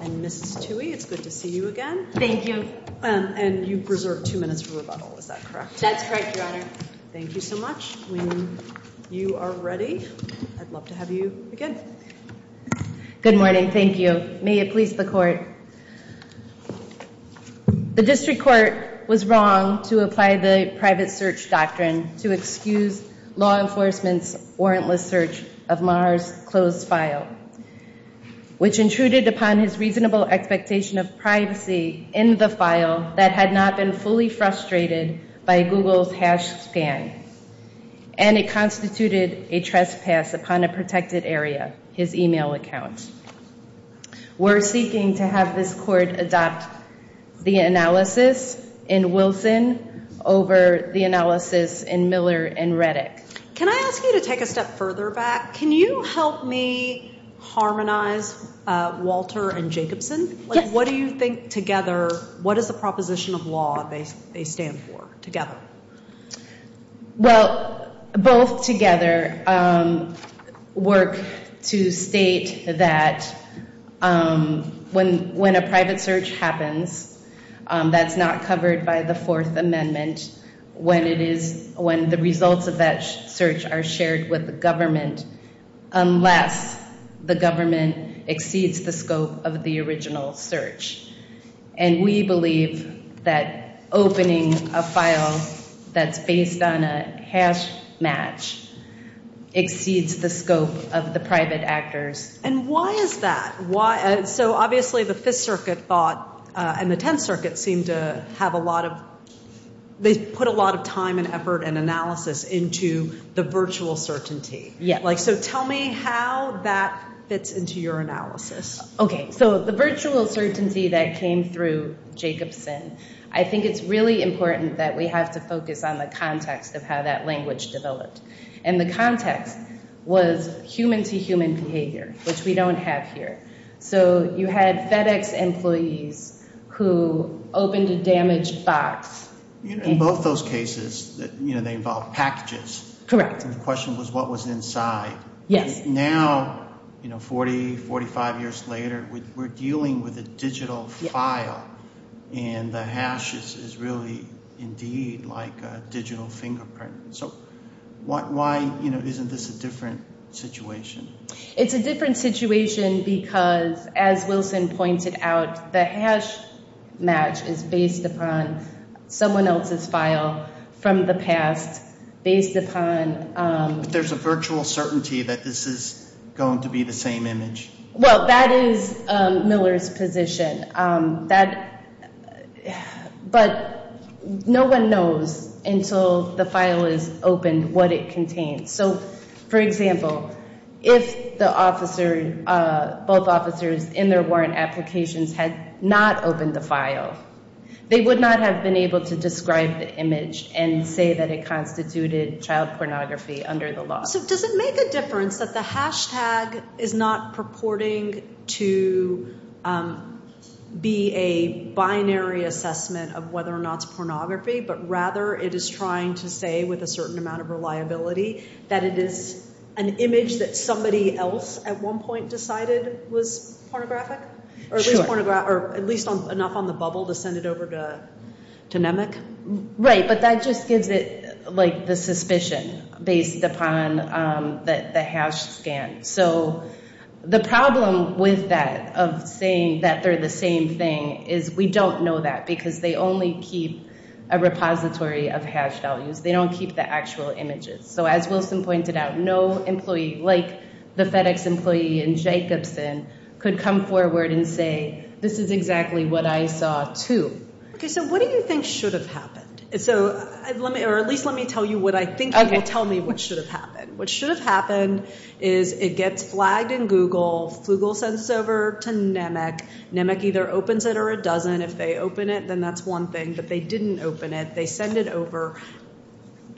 and Mrs. Tuohy. It's good to see you again. And you've reserved two minutes for rebuttal. Is that correct? That's correct, Your Honor. Thank you so much. When you are ready, I'd love to have you again. Good morning. Thank you. May it please the Court. The District Judge of Maher's closed file, which intruded upon his reasonable expectation of privacy in the file that had not been fully frustrated by Google's hash scan, and it constituted a trespass upon a protected area, his email account. We're seeking to have this Court adopt the analysis in Wilson over the analysis in Miller and Reddick. Can I ask you to take a step further back? Can you help me harmonize Walter and Jacobson? Yes. What do you think together, what is the proposition of law they stand for together? Well, both together work to state that when a private search happens, that's not covered by the Fourth Amendment when the results of that search are shared with the government unless the government exceeds the scope of the original search. And we believe that opening a file that's based on a hash match exceeds the scope of the private actors. And why is that? So obviously the Fifth Circuit thought, and the Tenth Circuit seemed to have a lot of, they put a lot of time and effort and analysis into the virtual certainty. Yeah. Like, so tell me how that fits into your analysis. Okay. So the virtual certainty that came through Jacobson, I think it's really important that we have to focus on the context of how that language developed. And the context was human to human behavior, which we don't have here. So you had FedEx employees who opened a damaged box. In both those cases, you know, they involved packages. Correct. And the question was what was inside. Yes. Now, you know, 40, 45 years later, we're dealing with a digital file and the hash is really indeed like a digital fingerprint. So why, you know, isn't this a different situation? It's a different situation because, as Wilson pointed out, the hash match is based upon someone else's file from the past based upon... But there's a virtual certainty that this is going to be the same image. Well, that is Miller's position. But no one knows until the file is opened what it contains. So, for example, if the officer, both officers in their warrant applications had not opened the file, they would not have been able to describe the image and say that it constituted child pornography under the law. So does it make a difference that the hash tag is not purporting to be a binary assessment of whether or not it's pornography, but rather it is trying to say with a certain amount of reliability that it is an image that somebody else at one point decided was pornographic? Sure. Or at least enough on the bubble to send it over to NEMIC? Right. But that just gives it like the suspicion based upon the hash scan. So the problem with that, of saying that they're the same thing, is we don't know that because they only keep a repository of hash values. They don't keep the actual images. So as Wilson pointed out, no employee like the FedEx employee in Jacobson could come forward and say, this is exactly what I saw too. Okay, so what do you think should have happened? Or at least let me tell you what I think you will tell me what should have happened. What should have happened is it gets flagged in Google. Google sends it over to NEMIC. NEMIC either opens it or it doesn't. If they open it, then that's one thing. But they didn't open it. They send it over.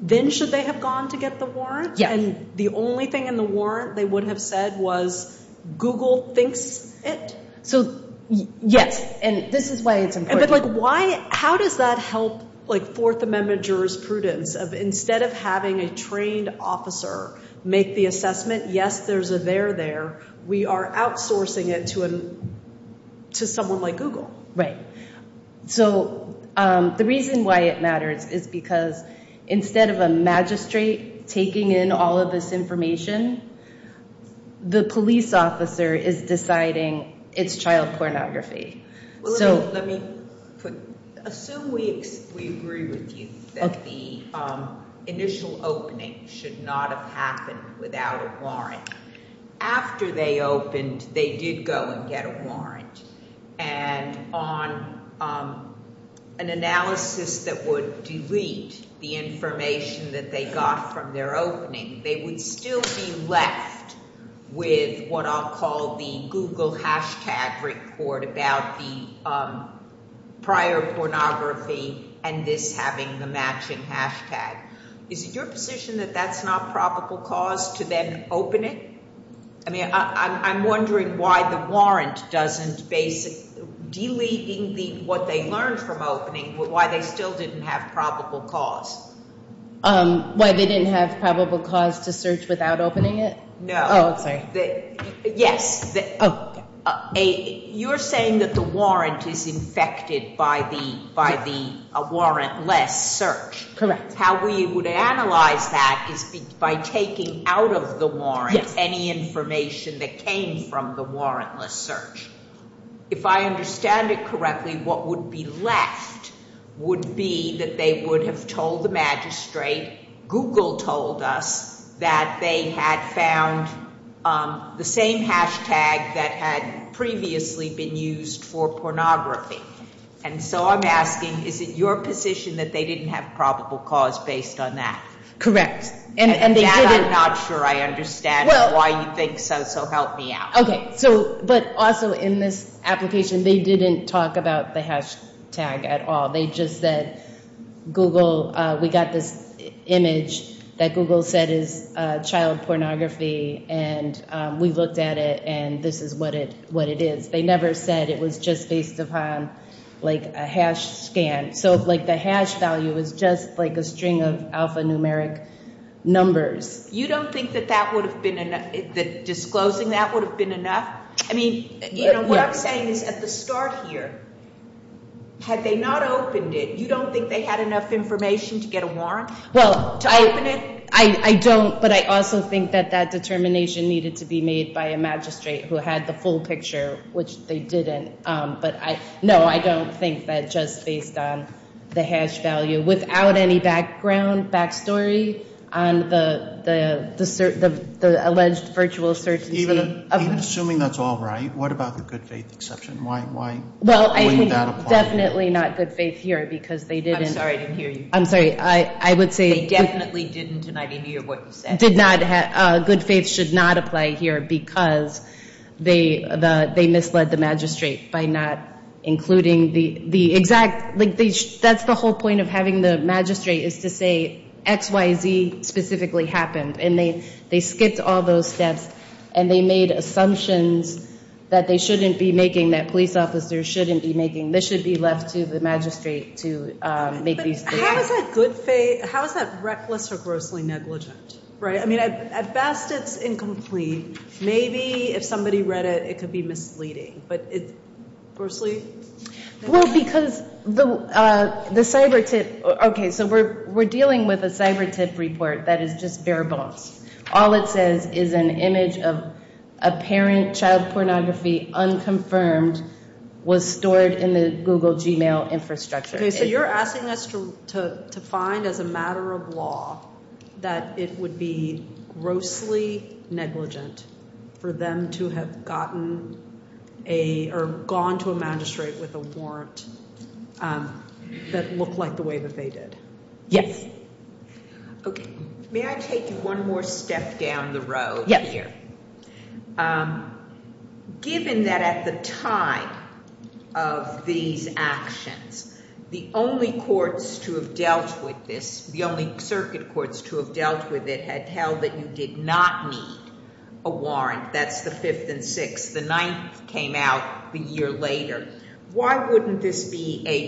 Then should they have gone to get the warrant? Yeah. And the only thing in the warrant they would have said was Google thinks it? So yes, and this is why it's important. But how does that help like Fourth Amendment jurisprudence of instead of having a trained officer make the assessment, yes, there's a there there, we are outsourcing it to someone like Google. Right. So the reason why it matters is because instead of a magistrate taking in all of this information, the police officer is deciding it's child pornography. So let me assume we agree with you that the initial opening should not have happened without a warrant. After they opened, they did go and get a warrant. And on an analysis that would delete the information that they got from their opening, they would still be left with what I'll call the Google hashtag report about the prior pornography and this having the matching hashtag. Is it your position that that's not probable cause to then open it? I mean, I'm wondering why the warrant doesn't basic deleting what they learned from opening, why they still didn't have probable cause. Why they didn't have probable cause to search without opening it? No. Oh, sorry. Yes. You're saying that the warrant is infected by the by the warrantless search. Correct. How we would analyze that is by taking out of the warrant any information that came from the warrantless search. If I understand it correctly, what would be left would be that they would have told the magistrate, Google told us that they had found the same hashtag that had previously been used for pornography. And so I'm asking, is it your position that they didn't have probable cause based on that? Correct. And that I'm not sure I understand why you think so. So help me out. Okay. So but also in this application, they didn't talk about the hashtag at all. They just said Google, we got this image that Google said is child pornography and we looked at it and this is what it what it is. They never said it was just based upon like a hash scan. So like the hash value is just like a string of alphanumeric numbers. You don't think that that would have been enough that disclosing that would have been enough? I mean, you know, what I'm saying is at the start here, had they not opened it, you don't think they had enough information to get a warrant? Well, to open it? I don't. But I also think that that determination needed to be made by a magistrate who had the full picture, which they didn't. But no, I don't think that just based on the hash value without any background backstory on the the the the alleged virtual search. Even assuming that's all right. What about the good faith exception? Why? Why? Well, I think definitely not good faith here because they didn't. I'm sorry. I didn't hear you. I'm sorry. I would say definitely didn't tonight. Any of what you said did not have good faith should not apply here because they they misled the magistrate by not including the the exact link. That's the whole point of having the magistrate is to say X, Y, Z specifically happened. And they they skipped all those steps. And they made assumptions that they shouldn't be making that police officers shouldn't be making. This should be left to the magistrate to make these good faith. How is that reckless or grossly negligent? Right. I mean, at best, it's incomplete. Maybe if somebody read it, it could be misleading. But it's grossly. Well, because the the cyber tip. OK, so we're we're dealing with a cyber tip report that is just bare bones. All it says is an image of a parent. Child pornography unconfirmed was stored in the Google Gmail infrastructure. So you're asking us to to to find as a matter of law that it would be grossly negligent for them to have gotten a or gone to a magistrate with a warrant that would be a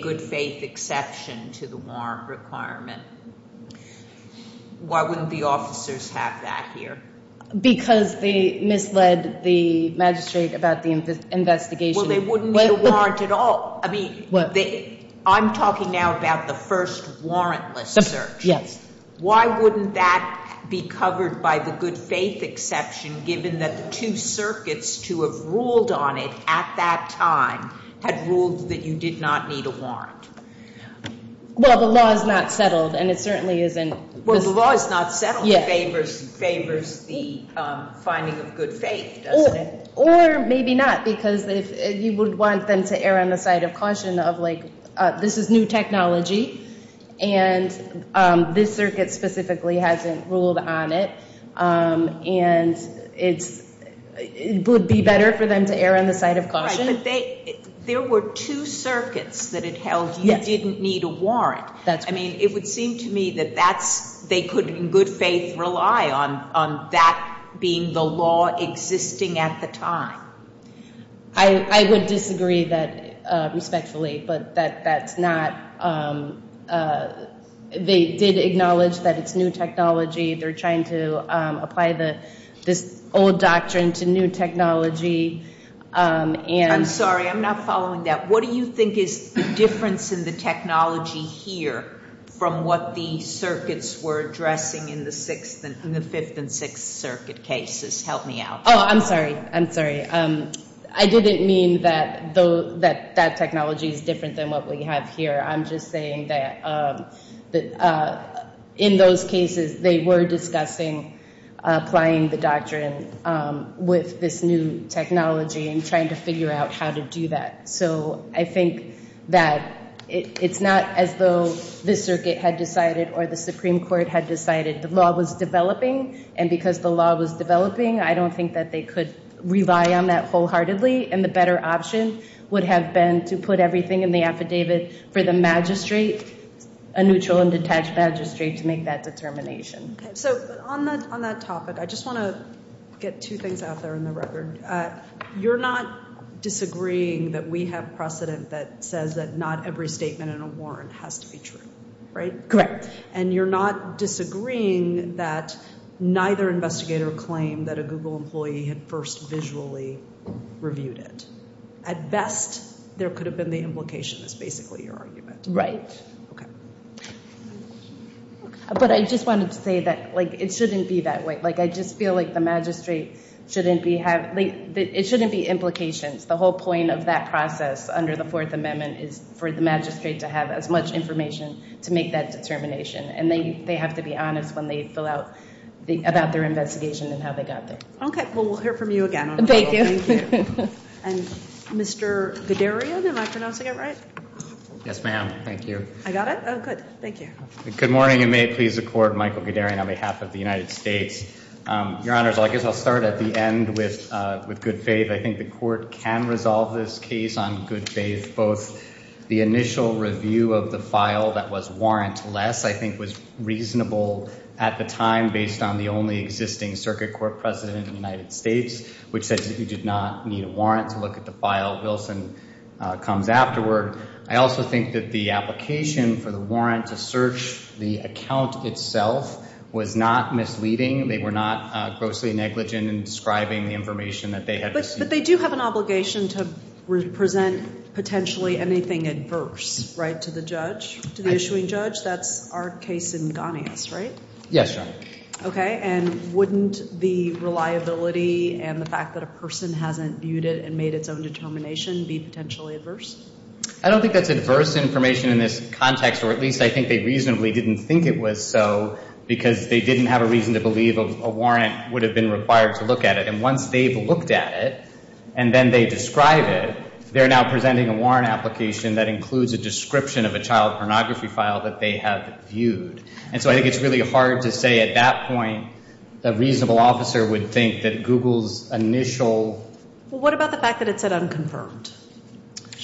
good faith exception to the warrant requirement. Why wouldn't the officers have that here? Because they misled the magistrate about the investigation. Well, they wouldn't warrant at all. I mean, I'm talking now about the first warrantless search. Yes. Why wouldn't that be covered by the good faith exception, given that the two circuits to have ruled on it at that time had ruled that you did not need a warrant? Well, the law is not settled and it certainly isn't. Well, the law is not settled. It favors the finding of good faith, doesn't it? Or maybe not, because you would want them to err on the side of caution of like this is new technology and this circuit specifically hasn't ruled on it. And it would be better for them to err on the side of caution. But there were two circuits that it held you didn't need a warrant. I mean, it would seem to me that they could in good faith rely on that being the law existing at the time. I would disagree that respectfully, but that's not they did acknowledge that it's new technology. They're trying to apply this old doctrine to new technology. I'm sorry, I'm not following that. What do you think is the difference in the technology here from what the circuits were addressing in the Fifth and Sixth Circuit cases? Help me out. Oh, I'm sorry. I'm sorry. I didn't mean that that technology is different than what we have here. I'm just saying that in those cases they were discussing applying the doctrine with this new technology and trying to figure out how to do that. So I think that it's not as though this circuit had decided or the Supreme Court had decided the law was developing. And because the law was developing, I don't think that they could rely on that wholeheartedly. And the better option would have been to put everything in the affidavit for the magistrate, a neutral and detached magistrate to make that determination. So on that topic, I just want to get two things out there in the record. You're not disagreeing that we have precedent that says that not every statement in a warrant has to be true, right? Correct. And you're not disagreeing that neither investigator claimed that a Google employee had first visually reviewed it. At best, there could have been the implication is basically your argument. Right. But I just wanted to say that it shouldn't be that way. I just feel like the magistrate shouldn't be having, it shouldn't be implications. The whole point of that process under the Fourth Amendment is for the magistrate to have as much information to make that determination. And they have to be honest when they fill out about their investigation and how they got there. Okay. Well, we'll hear from you again. Thank you. And Mr. Guderian, am I pronouncing it right? Yes, ma'am. Thank you. I got it? Oh, good. Thank you. Good morning. And may it please the court, Michael Guderian on behalf of the United States. Your Honor, I guess I'll start at the end with good faith. I think the court can resolve this case on good faith. Both the initial review of the file that was warrantless, I think was reasonable at the time based on the only existing circuit court precedent in the United States, which said that you did not need a warrant to look at the file. Wilson comes afterward. I also think that the application for the warrant to search the account itself was not misleading. They were not grossly negligent in describing the information that they had received. But they do have an obligation to present potentially anything adverse, right, to the judge, to the issuing judge. That's our case in Ghanaius, right? Yes, Your Honor. Okay. And wouldn't the reliability and the fact that a person hasn't viewed it and made its own determination be potentially adverse? I don't think that's adverse information in this context, or at least I think they reasonably didn't think it was so, because they didn't have a reason to believe a warrant would have been required to look at it. And once they've looked at it, and then they describe it, they're now presenting a warrant application that includes a description of a child pornography file that they have viewed. And so I think it's really hard to say at that point a reasonable officer would think that Google's initial... Well, what about the fact that it said unconfirmed?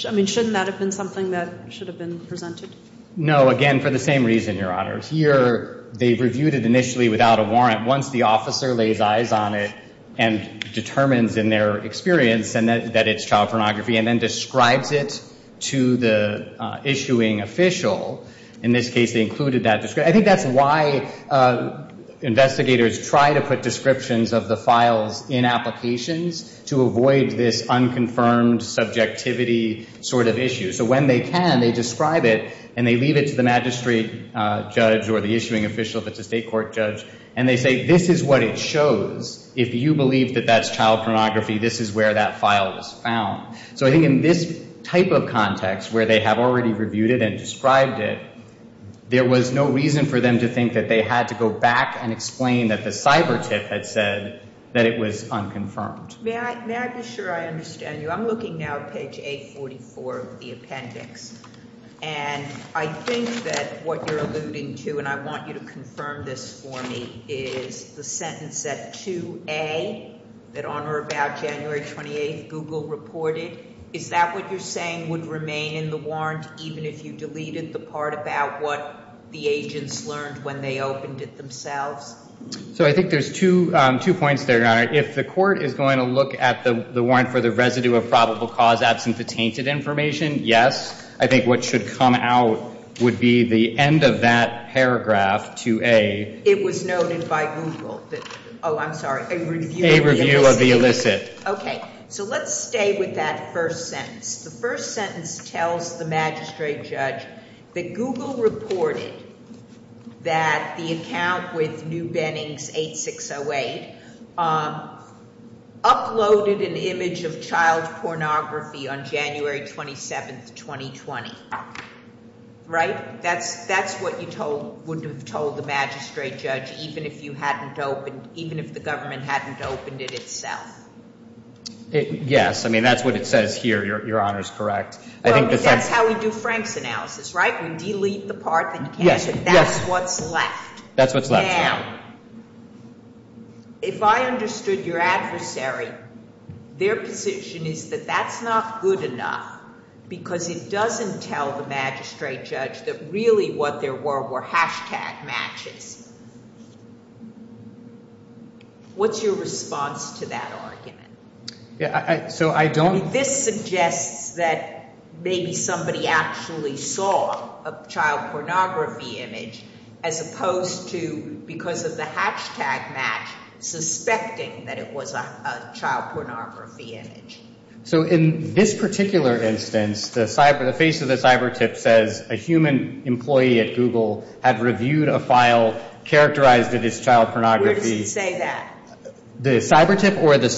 I mean, shouldn't that have been something that should have been presented? No. Again, for the same reason, Your Honor. Here, they've reviewed it initially without a warrant. Once the officer lays eyes on it and determines in their experience that it's child pornography and then describes it to the issuing official, in this case they included that description. I think that's why investigators try to put descriptions of the files in applications to avoid this unconfirmed subjectivity sort of issue. So when they can, they describe it and they leave it to the magistrate judge or the issuing official if it's a state court judge. And they say, this is what it shows. If you believe that that's child pornography, this is where that was when we reviewed it and described it, there was no reason for them to think that they had to go back and explain that the cyber tip had said that it was unconfirmed. May I be sure I understand you? I'm looking now at page 844 of the appendix. And I think that what you're alluding to, and I want you to confirm this for me, is the sentence at 2A that on or about January 28th Google reported. Is that what you're saying would remain in the warrant even if you deleted the part about what the agents learned when they opened it themselves? So I think there's two points there, Your Honor. If the court is going to look at the warrant for the residue of probable cause absent the tainted information, yes. I think what should come out would be the end of that paragraph 2A. It was so let's stay with that first sentence. The first sentence tells the magistrate judge that Google reported that the account with New Bennings 8608 uploaded an image of child pornography on January 27th, 2020. Right? That's what you would have told the magistrate judge even if the government hadn't opened it itself. Yes. I mean, that's what it says here, Your Honor, is correct. That's how we do Frank's analysis, right? We delete the part that you can't. That's what's left. Now, if I understood your adversary, their position is that that's not good enough because it doesn't tell the magistrate judge that really what there were were hashtag matches. What's your response to that argument? This suggests that maybe somebody actually saw a child pornography image as opposed to because of the hashtag match suspecting that it was a child pornography image. So in this particular instance, the face of the cyber tip says a human employee at Google had reviewed a file characterized as child pornography. Where does it say that? The cyber tip or the...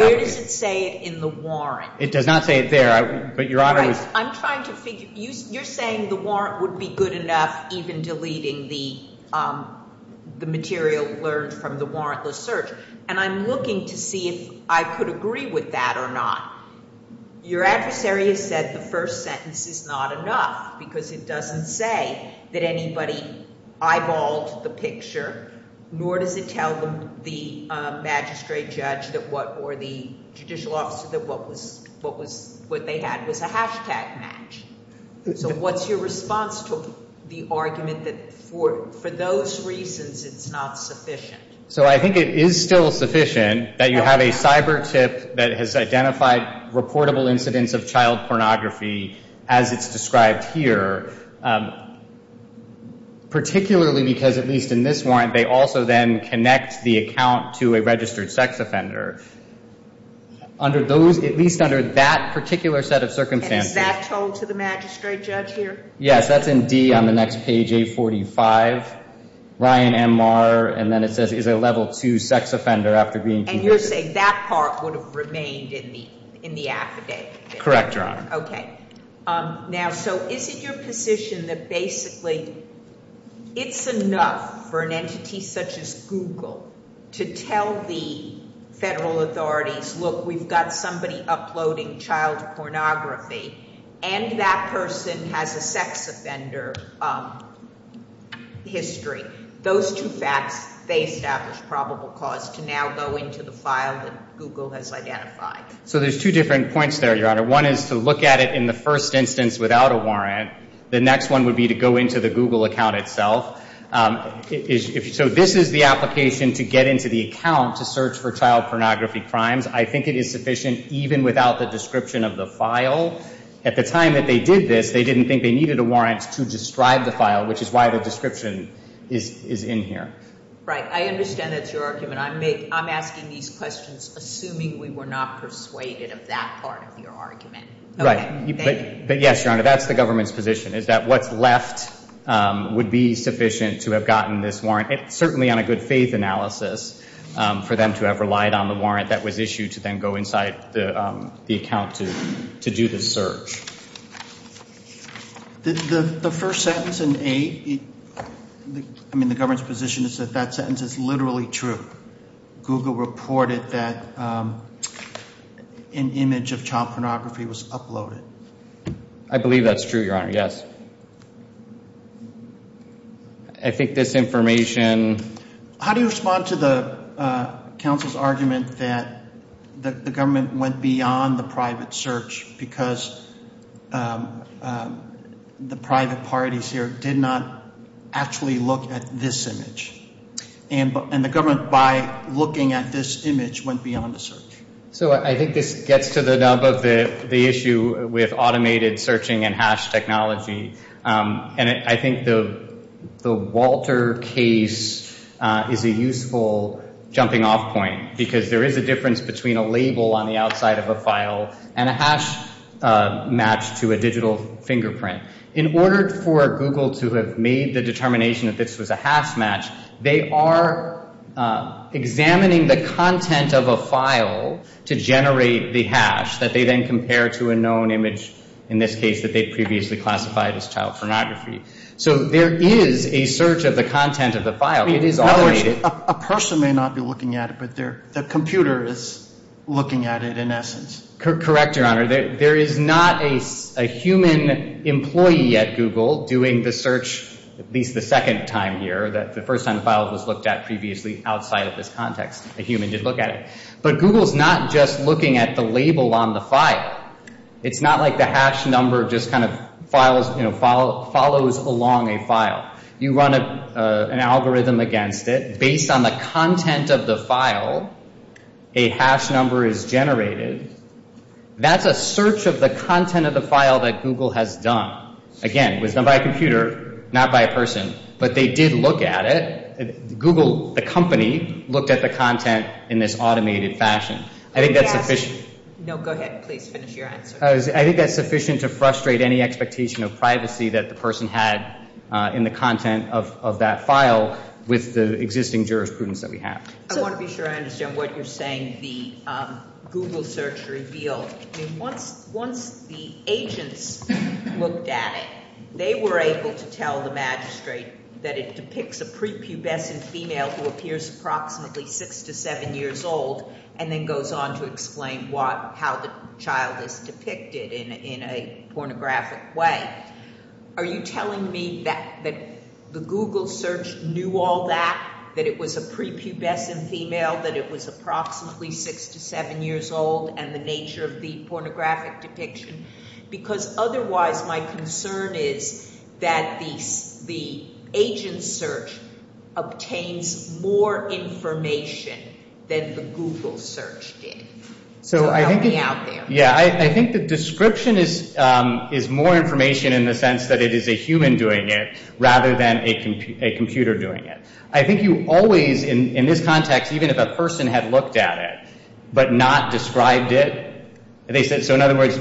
Where does it say it in the warrant? It does not say it there, but Your Honor... You're saying the warrant would be good enough even deleting the material learned from the warrantless search. And I'm looking to see if I could agree with that or not. Your adversary has said the first sentence is not enough because it doesn't say that anybody eyeballed the picture, nor does it tell the magistrate judge or the judicial officer that what they had was a hashtag match. So what's your response to the argument that for those reasons it's not sufficient? So I think it is still sufficient that you have a cyber tip that has identified reportable incidents of child pornography as it's described here, particularly because at least in this warrant they also then connect the account to a registered sex offender. Under those, at least under that particular set of circumstances... And is that told to the magistrate judge here? Yes, that's in D on the next page, 845. Ryan M. Marr, and then it says he's a level 2 sex offender after being convicted. And you're saying that part would have remained in the affidavit? Correct, Your Honor. Okay. Now, so is it your position that basically it's enough for an entity such as Google to tell the federal authorities, look, we've got somebody uploading child pornography and that person has a sex offender history. Those two facts, they establish probable cause to now go into the file that Google has identified. So there's two different points there, Your Honor. One is to look at it in the first instance without a warrant. The next one would be to go into the Google account itself. So this is the application to get into the account to search for child pornography crimes. I think it is sufficient even without the description of the file. At the time that they did this, they didn't think they needed a warrant to describe the file, which is why the description is in here. Right. I understand that's your argument. I'm asking these questions assuming we were not persuaded of that part of your argument. Right. But yes, Your Honor, that's the government's position is that what's left would be sufficient to have gotten this warrant, certainly on a good faith analysis, for them to have relied on the warrant that was issued to then go inside the account to do the search. The first sentence in A, I mean the government's position is that that sentence is literally true. Google reported that an image of child pornography was uploaded. I believe that's true, Your Honor, yes. I think this information... How do you respond to the counsel's argument that the government went beyond the private search because the private parties here did not actually look at this image, and the government by looking at this image went beyond the search? So I think this gets to the nub of the issue with automated searching and hash technology, and I think the Walter case is a useful jumping off point because there is a difference between a label on the outside of a file and a hash match to a digital fingerprint. In order for Google to have made the determination that this was a hash match, they are examining the content of a file to generate the hash that they then compare to a known image, in this case that they previously classified as child pornography. So there is a search of the content of the file. It is automated. A person may not be looking at it, but the computer is looking at it in essence. Correct, Your Honor. There is not a human employee at Google doing the search, at least the second time here, the first time the file was looked at previously outside of this context. A human did look at it. But Google is not just looking at the label on the file. It's not like the hash number just kind of follows along a file. You run an algorithm against it. Based on the content of the file, a hash number is generated. That's a search of the content of the file that Google has done. Again, it was done by a computer, not by a person. But they did look at it. Google, the company, looked at the content in this automated fashion. I think that's sufficient. No, go ahead. Please finish your answer. I think that's sufficient to frustrate any expectation of privacy that the person had in the content of that file with the existing jurisprudence that we have. I want to be sure I understand what you're saying, the Google search revealed. Once the agents looked at it, they were able to tell the magistrate that it depicts a prepubescent female who appears approximately six to seven years old and then goes on to explain how the child is depicted in a pornographic way. Are you telling me that the Google search knew all that, that it was a prepubescent female, that it was approximately six to seven years old and the nature of the pornographic depiction? Because otherwise my concern is that the agent search obtains more information than the Google search did. So help me out there. I think the description is more information in the sense that it is a human doing it rather than a computer doing it. I think you always, in this context, even if a person had looked at it but not described it, they said,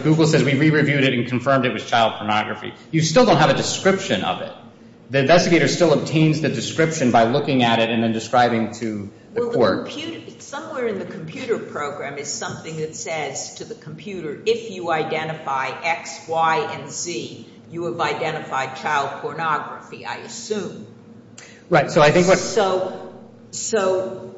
Google says we re-reviewed it and confirmed it was child pornography. You still don't have a description of it. The investigator still obtains the description by looking at it and then describing to the court. Somewhere in the computer program is something that says to the computer, if you identify X, Y, and Z, you have identified child pornography, I assume. So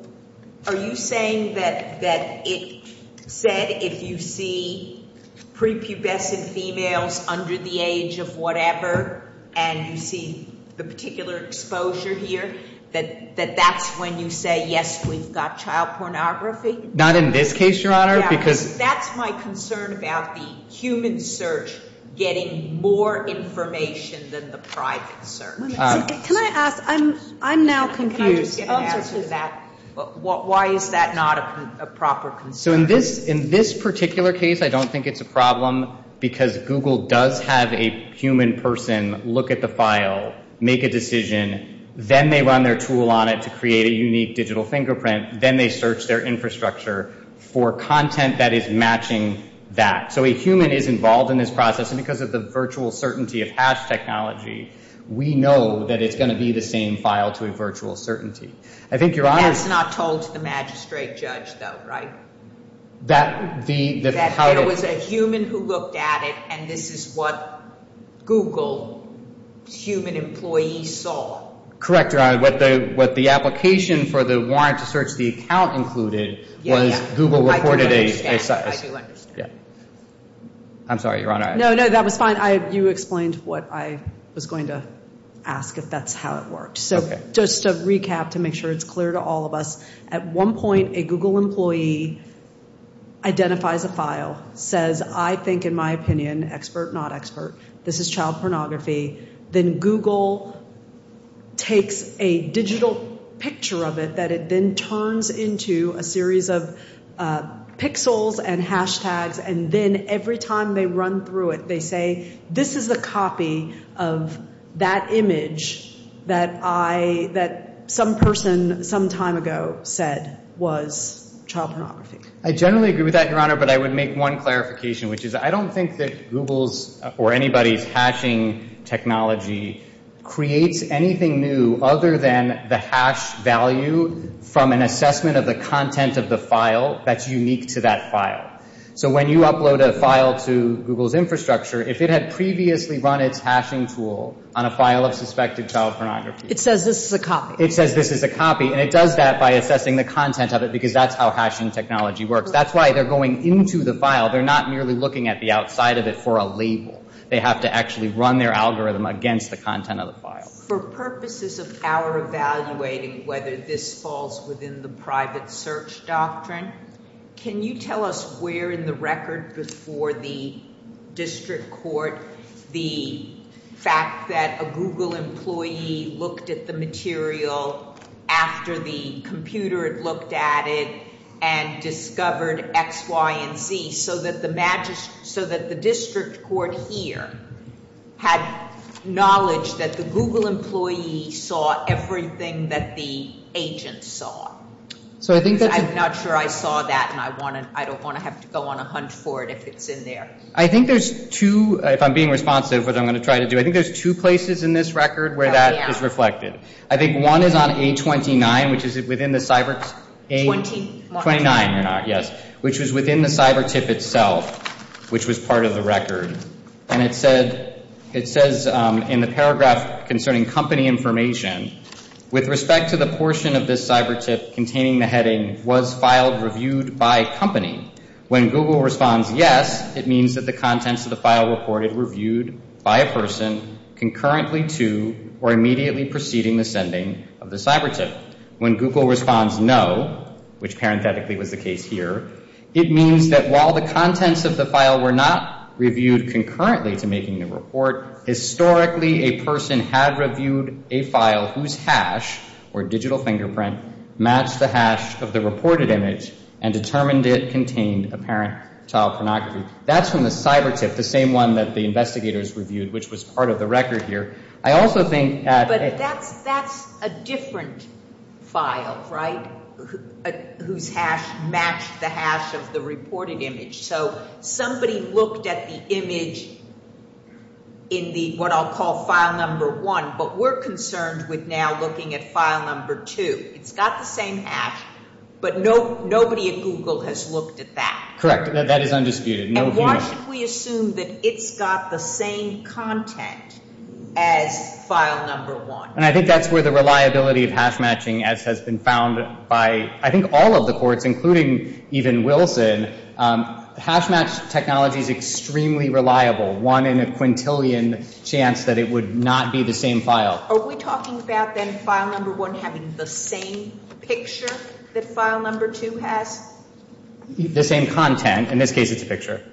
are you saying that it said if you see prepubescent females under the age of whatever and you see the particular exposure here, that that's when you say, yes, we've got child pornography? Not in this case, Your Honor. That's my concern about the human search getting more information than the private search. I'm now confused. Why is that not a proper concern? In this particular case, I don't think it's a problem because Google does have a human person look at the file, make a decision, then they run their tool on it to create a unique digital fingerprint, then they search their infrastructure for content that is matching that. So a human is involved in this process and because of the virtual certainty of hash technology, we know that it's going to be the same file to a virtual certainty. That's not told to the magistrate judge though, right? That there was a human who looked at it and this is what Google's human employees saw. Correct, Your Honor. What the application for the warrant to search the account included was Google reported a... I do understand. I'm sorry, Your Honor. No, no, that was fine. You explained what I was going to ask if that's how it worked. So just to recap to make sure it's clear to all of us, at one point a Google employee identifies a file, says I think in my opinion, expert, not expert, this is child pornography, then Google takes a digital picture of it that it then turns into a series of pixels and hashtags and then every time they run through it, they say this is a copy of that image that I, that some person some time ago said was child pornography. I generally agree with that, Your Honor, but I would make one clarification which is I don't think that Google's or anybody's hashing technology creates anything new other than the hash value from an assessment of the content of the file that's unique to that file. So when you upload a file to Google's infrastructure, if it had previously run its hashing tool on a file of suspected child pornography. It says this is a copy. It says this is a copy and it does that by assessing the content of it because that's how hashing technology works. That's why they're going into the file. They're not merely looking at the outside of it for a label. They have to actually run their algorithm against the content of the file. For purposes of our evaluating whether this falls within the private search doctrine, can you tell us where in the record before the Google employee looked at the material after the computer had looked at it and discovered X, Y, and Z so that the district court here had knowledge that the Google employee saw everything that the agent saw? I'm not sure I saw that and I don't want to have to go on a hunt for it if it's in there. I think there's two, if I'm being responsive, which I'm going to try to do, I think there's two places in this record where that is reflected. I think one is on A29, which is within the cyber A29, yes, which was within the cyber tip itself, which was part of the record. And it says in the paragraph concerning company information, with respect to the portion of this cyber tip containing the heading was filed reviewed by company. When Google responds yes, it means that the contents of the file reported reviewed by a person concurrently to or immediately preceding the sending of the cyber tip. When Google responds no, which parenthetically was the case here, it means that while the contents of the file were not reviewed concurrently to making the report, historically a person had reviewed a file whose hash or digital fingerprint matched the hash of the reported image and determined it contained apparent child pornography. That's from the cyber tip, the same one that the investigators reviewed, which was part of the record here. I also think But that's a different file, right, whose hash matched the hash of the reported image. So somebody looked at the file number one, but we're concerned with now looking at file number two. It's got the same hash, but nobody at Google has looked at that. Correct. That is undisputed. And why should we assume that it's got the same content as file number one? And I think that's where the reliability of hash matching, as has been found by I think all of the courts, including even Wilson, hash not be the same file. Are we talking about then file number one having the same picture that file number two has? The same content. In this case, it's a picture.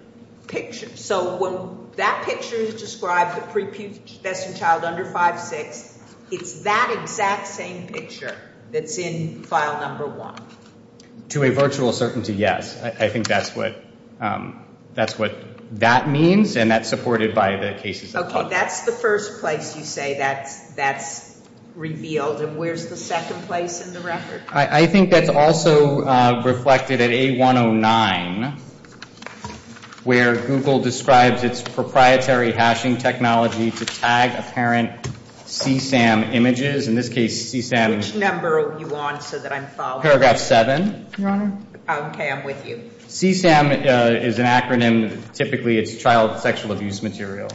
Picture. So when that picture is described, the pre-pubescent child under 5'6", it's that exact same picture that's in file number one. To a virtual certainty, yes. I think that's what that means, and that's supported by the cases. Okay. That's the first place you say that's revealed. And where's the second place in the record? I think that's also reflected at A109, where Google describes its proprietary hashing technology to tag apparent CSAM images. In this case, CSAM. Which number are you on so that I'm following? Paragraph 7, Your Honor. Okay, I'm with you. CSAM is an acronym. Typically, it's child sexual abuse material.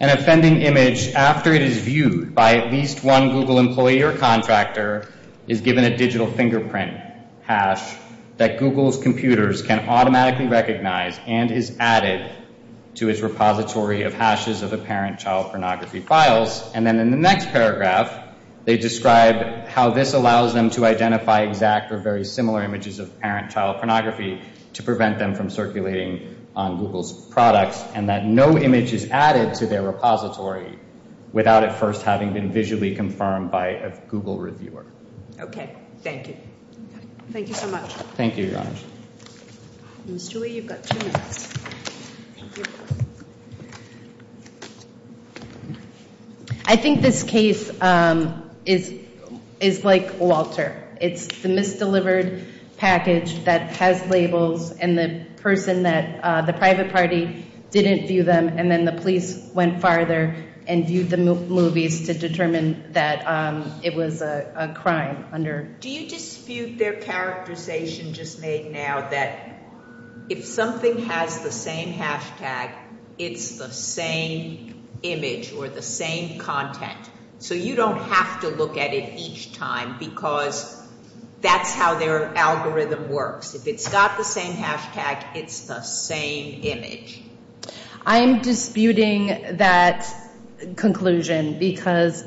An offending image, after it is viewed by at least one Google employee or contractor, is given a digital fingerprint hash that Google's computers can automatically recognize and is added to its repository of hashes of apparent child pornography files. And then in the next paragraph, they describe how this allows them to identify exact or very similar images of apparent child pornography to prevent them from circulating on Google's products, and that no image is added to their repository without it first having been visually confirmed by a Google reviewer. Okay. Thank you. Thank you so much. Thank you, Your Honor. Ms. Julie, you've got two minutes. Thank you. I think this case is like Walter. It's the misdelivered package that has labels and the person that the private party didn't view them, and then the police went farther and viewed the movies to determine that it was a crime under... Do you dispute their characterization just made now that if something has the same hashtag, it's the same image or the same content? So you don't have to look at it each time because that's how their algorithm works. If it's got the same hashtag, it's the same image. I'm disputing that conclusion because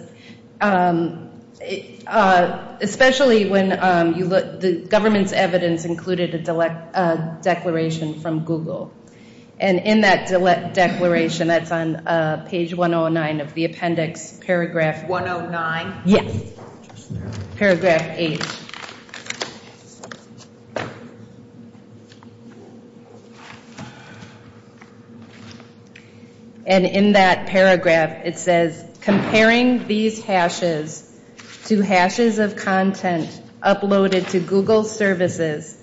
especially when the government's evidence included a declaration from Google. And in that declaration, that's on page 109 of the appendix, paragraph... 109? Yes. Paragraph 8. And in that paragraph, it says comparing these hashes to hashes of content uploaded to Google services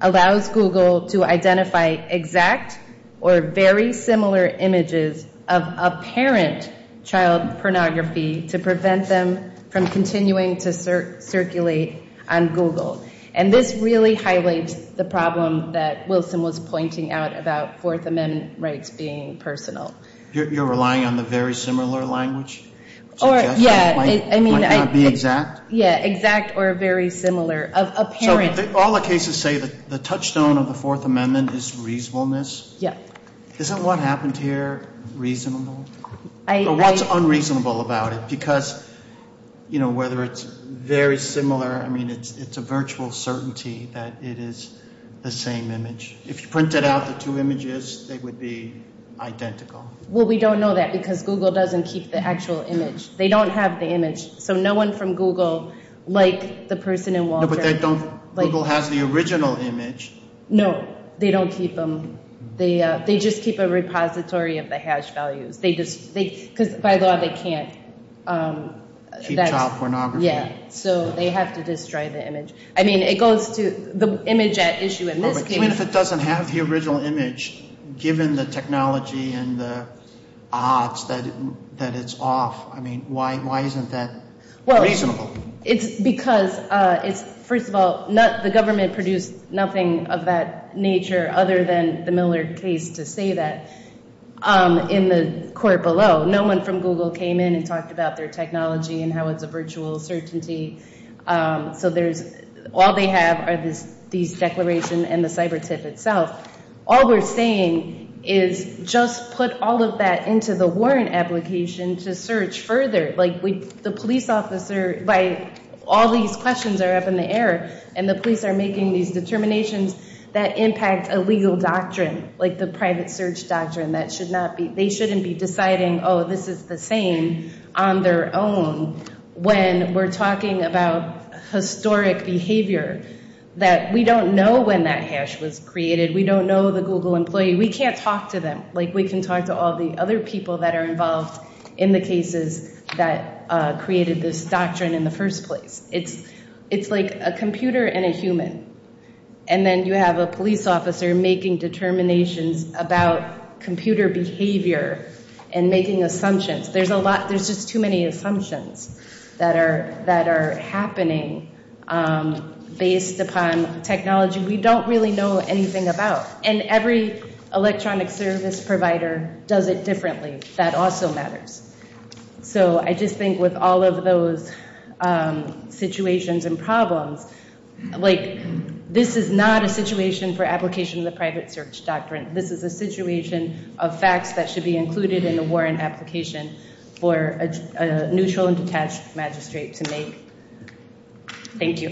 allows Google to identify exact or very similar images of apparent child pornography to be posted on Google. And this really highlights the problem that Wilson was pointing out about Fourth Amendment rights being personal. You're relying on the very similar language suggestion? It might not be exact? Yeah, exact or very similar. Of apparent... So all the cases say the touchstone of the Fourth Amendment is reasonableness? Yeah. Isn't what happened here reasonable? What's unreasonable about it? Because whether it's very similar... I mean, it's a virtual certainty that it is the same image. If you printed out the two images, they would be identical. Well, we don't know that because Google doesn't keep the actual image. They don't have the image. So no one from Google like the person in Walter... No, but they don't... Google has the original image. No, they don't keep them. They just keep a repository of the hash values. Because by law, they can't... Keep child pornography. Yeah, so they have to destroy the image. I mean, it goes to the image at issue in this case... Even if it doesn't have the original image, given the technology and the odds that it's off, I mean, why isn't that reasonable? It's because, first of all, the government produced nothing of that nature other than the Miller case to say that in the court below. No one from Google came in and talked about their technology and how it's a virtual certainty. So all they have are these declarations and the cyber tip itself. All we're saying is just put all of that into the warrant application to search further. All these questions are up in the air and the police are making these determinations that impact a legal doctrine, like the private search doctrine. They shouldn't be deciding, oh, this is the same on their own when we're talking about historic behavior that we don't know when that hash was created. We don't know the Google employee. We can't talk to them like we can talk to all the other people that are involved in the cases that created this doctrine in the first place. It's like a computer and a human. And then you have a police officer making determinations about computer behavior and making assumptions. There's just too many assumptions that are that we don't know anything about. And every electronic service provider does it differently. That also matters. So I just think with all of those situations and problems, this is not a situation for application of the private search doctrine. This is a situation of facts that should be included in the warrant application for a neutral and detached magistrate to make. Thank you.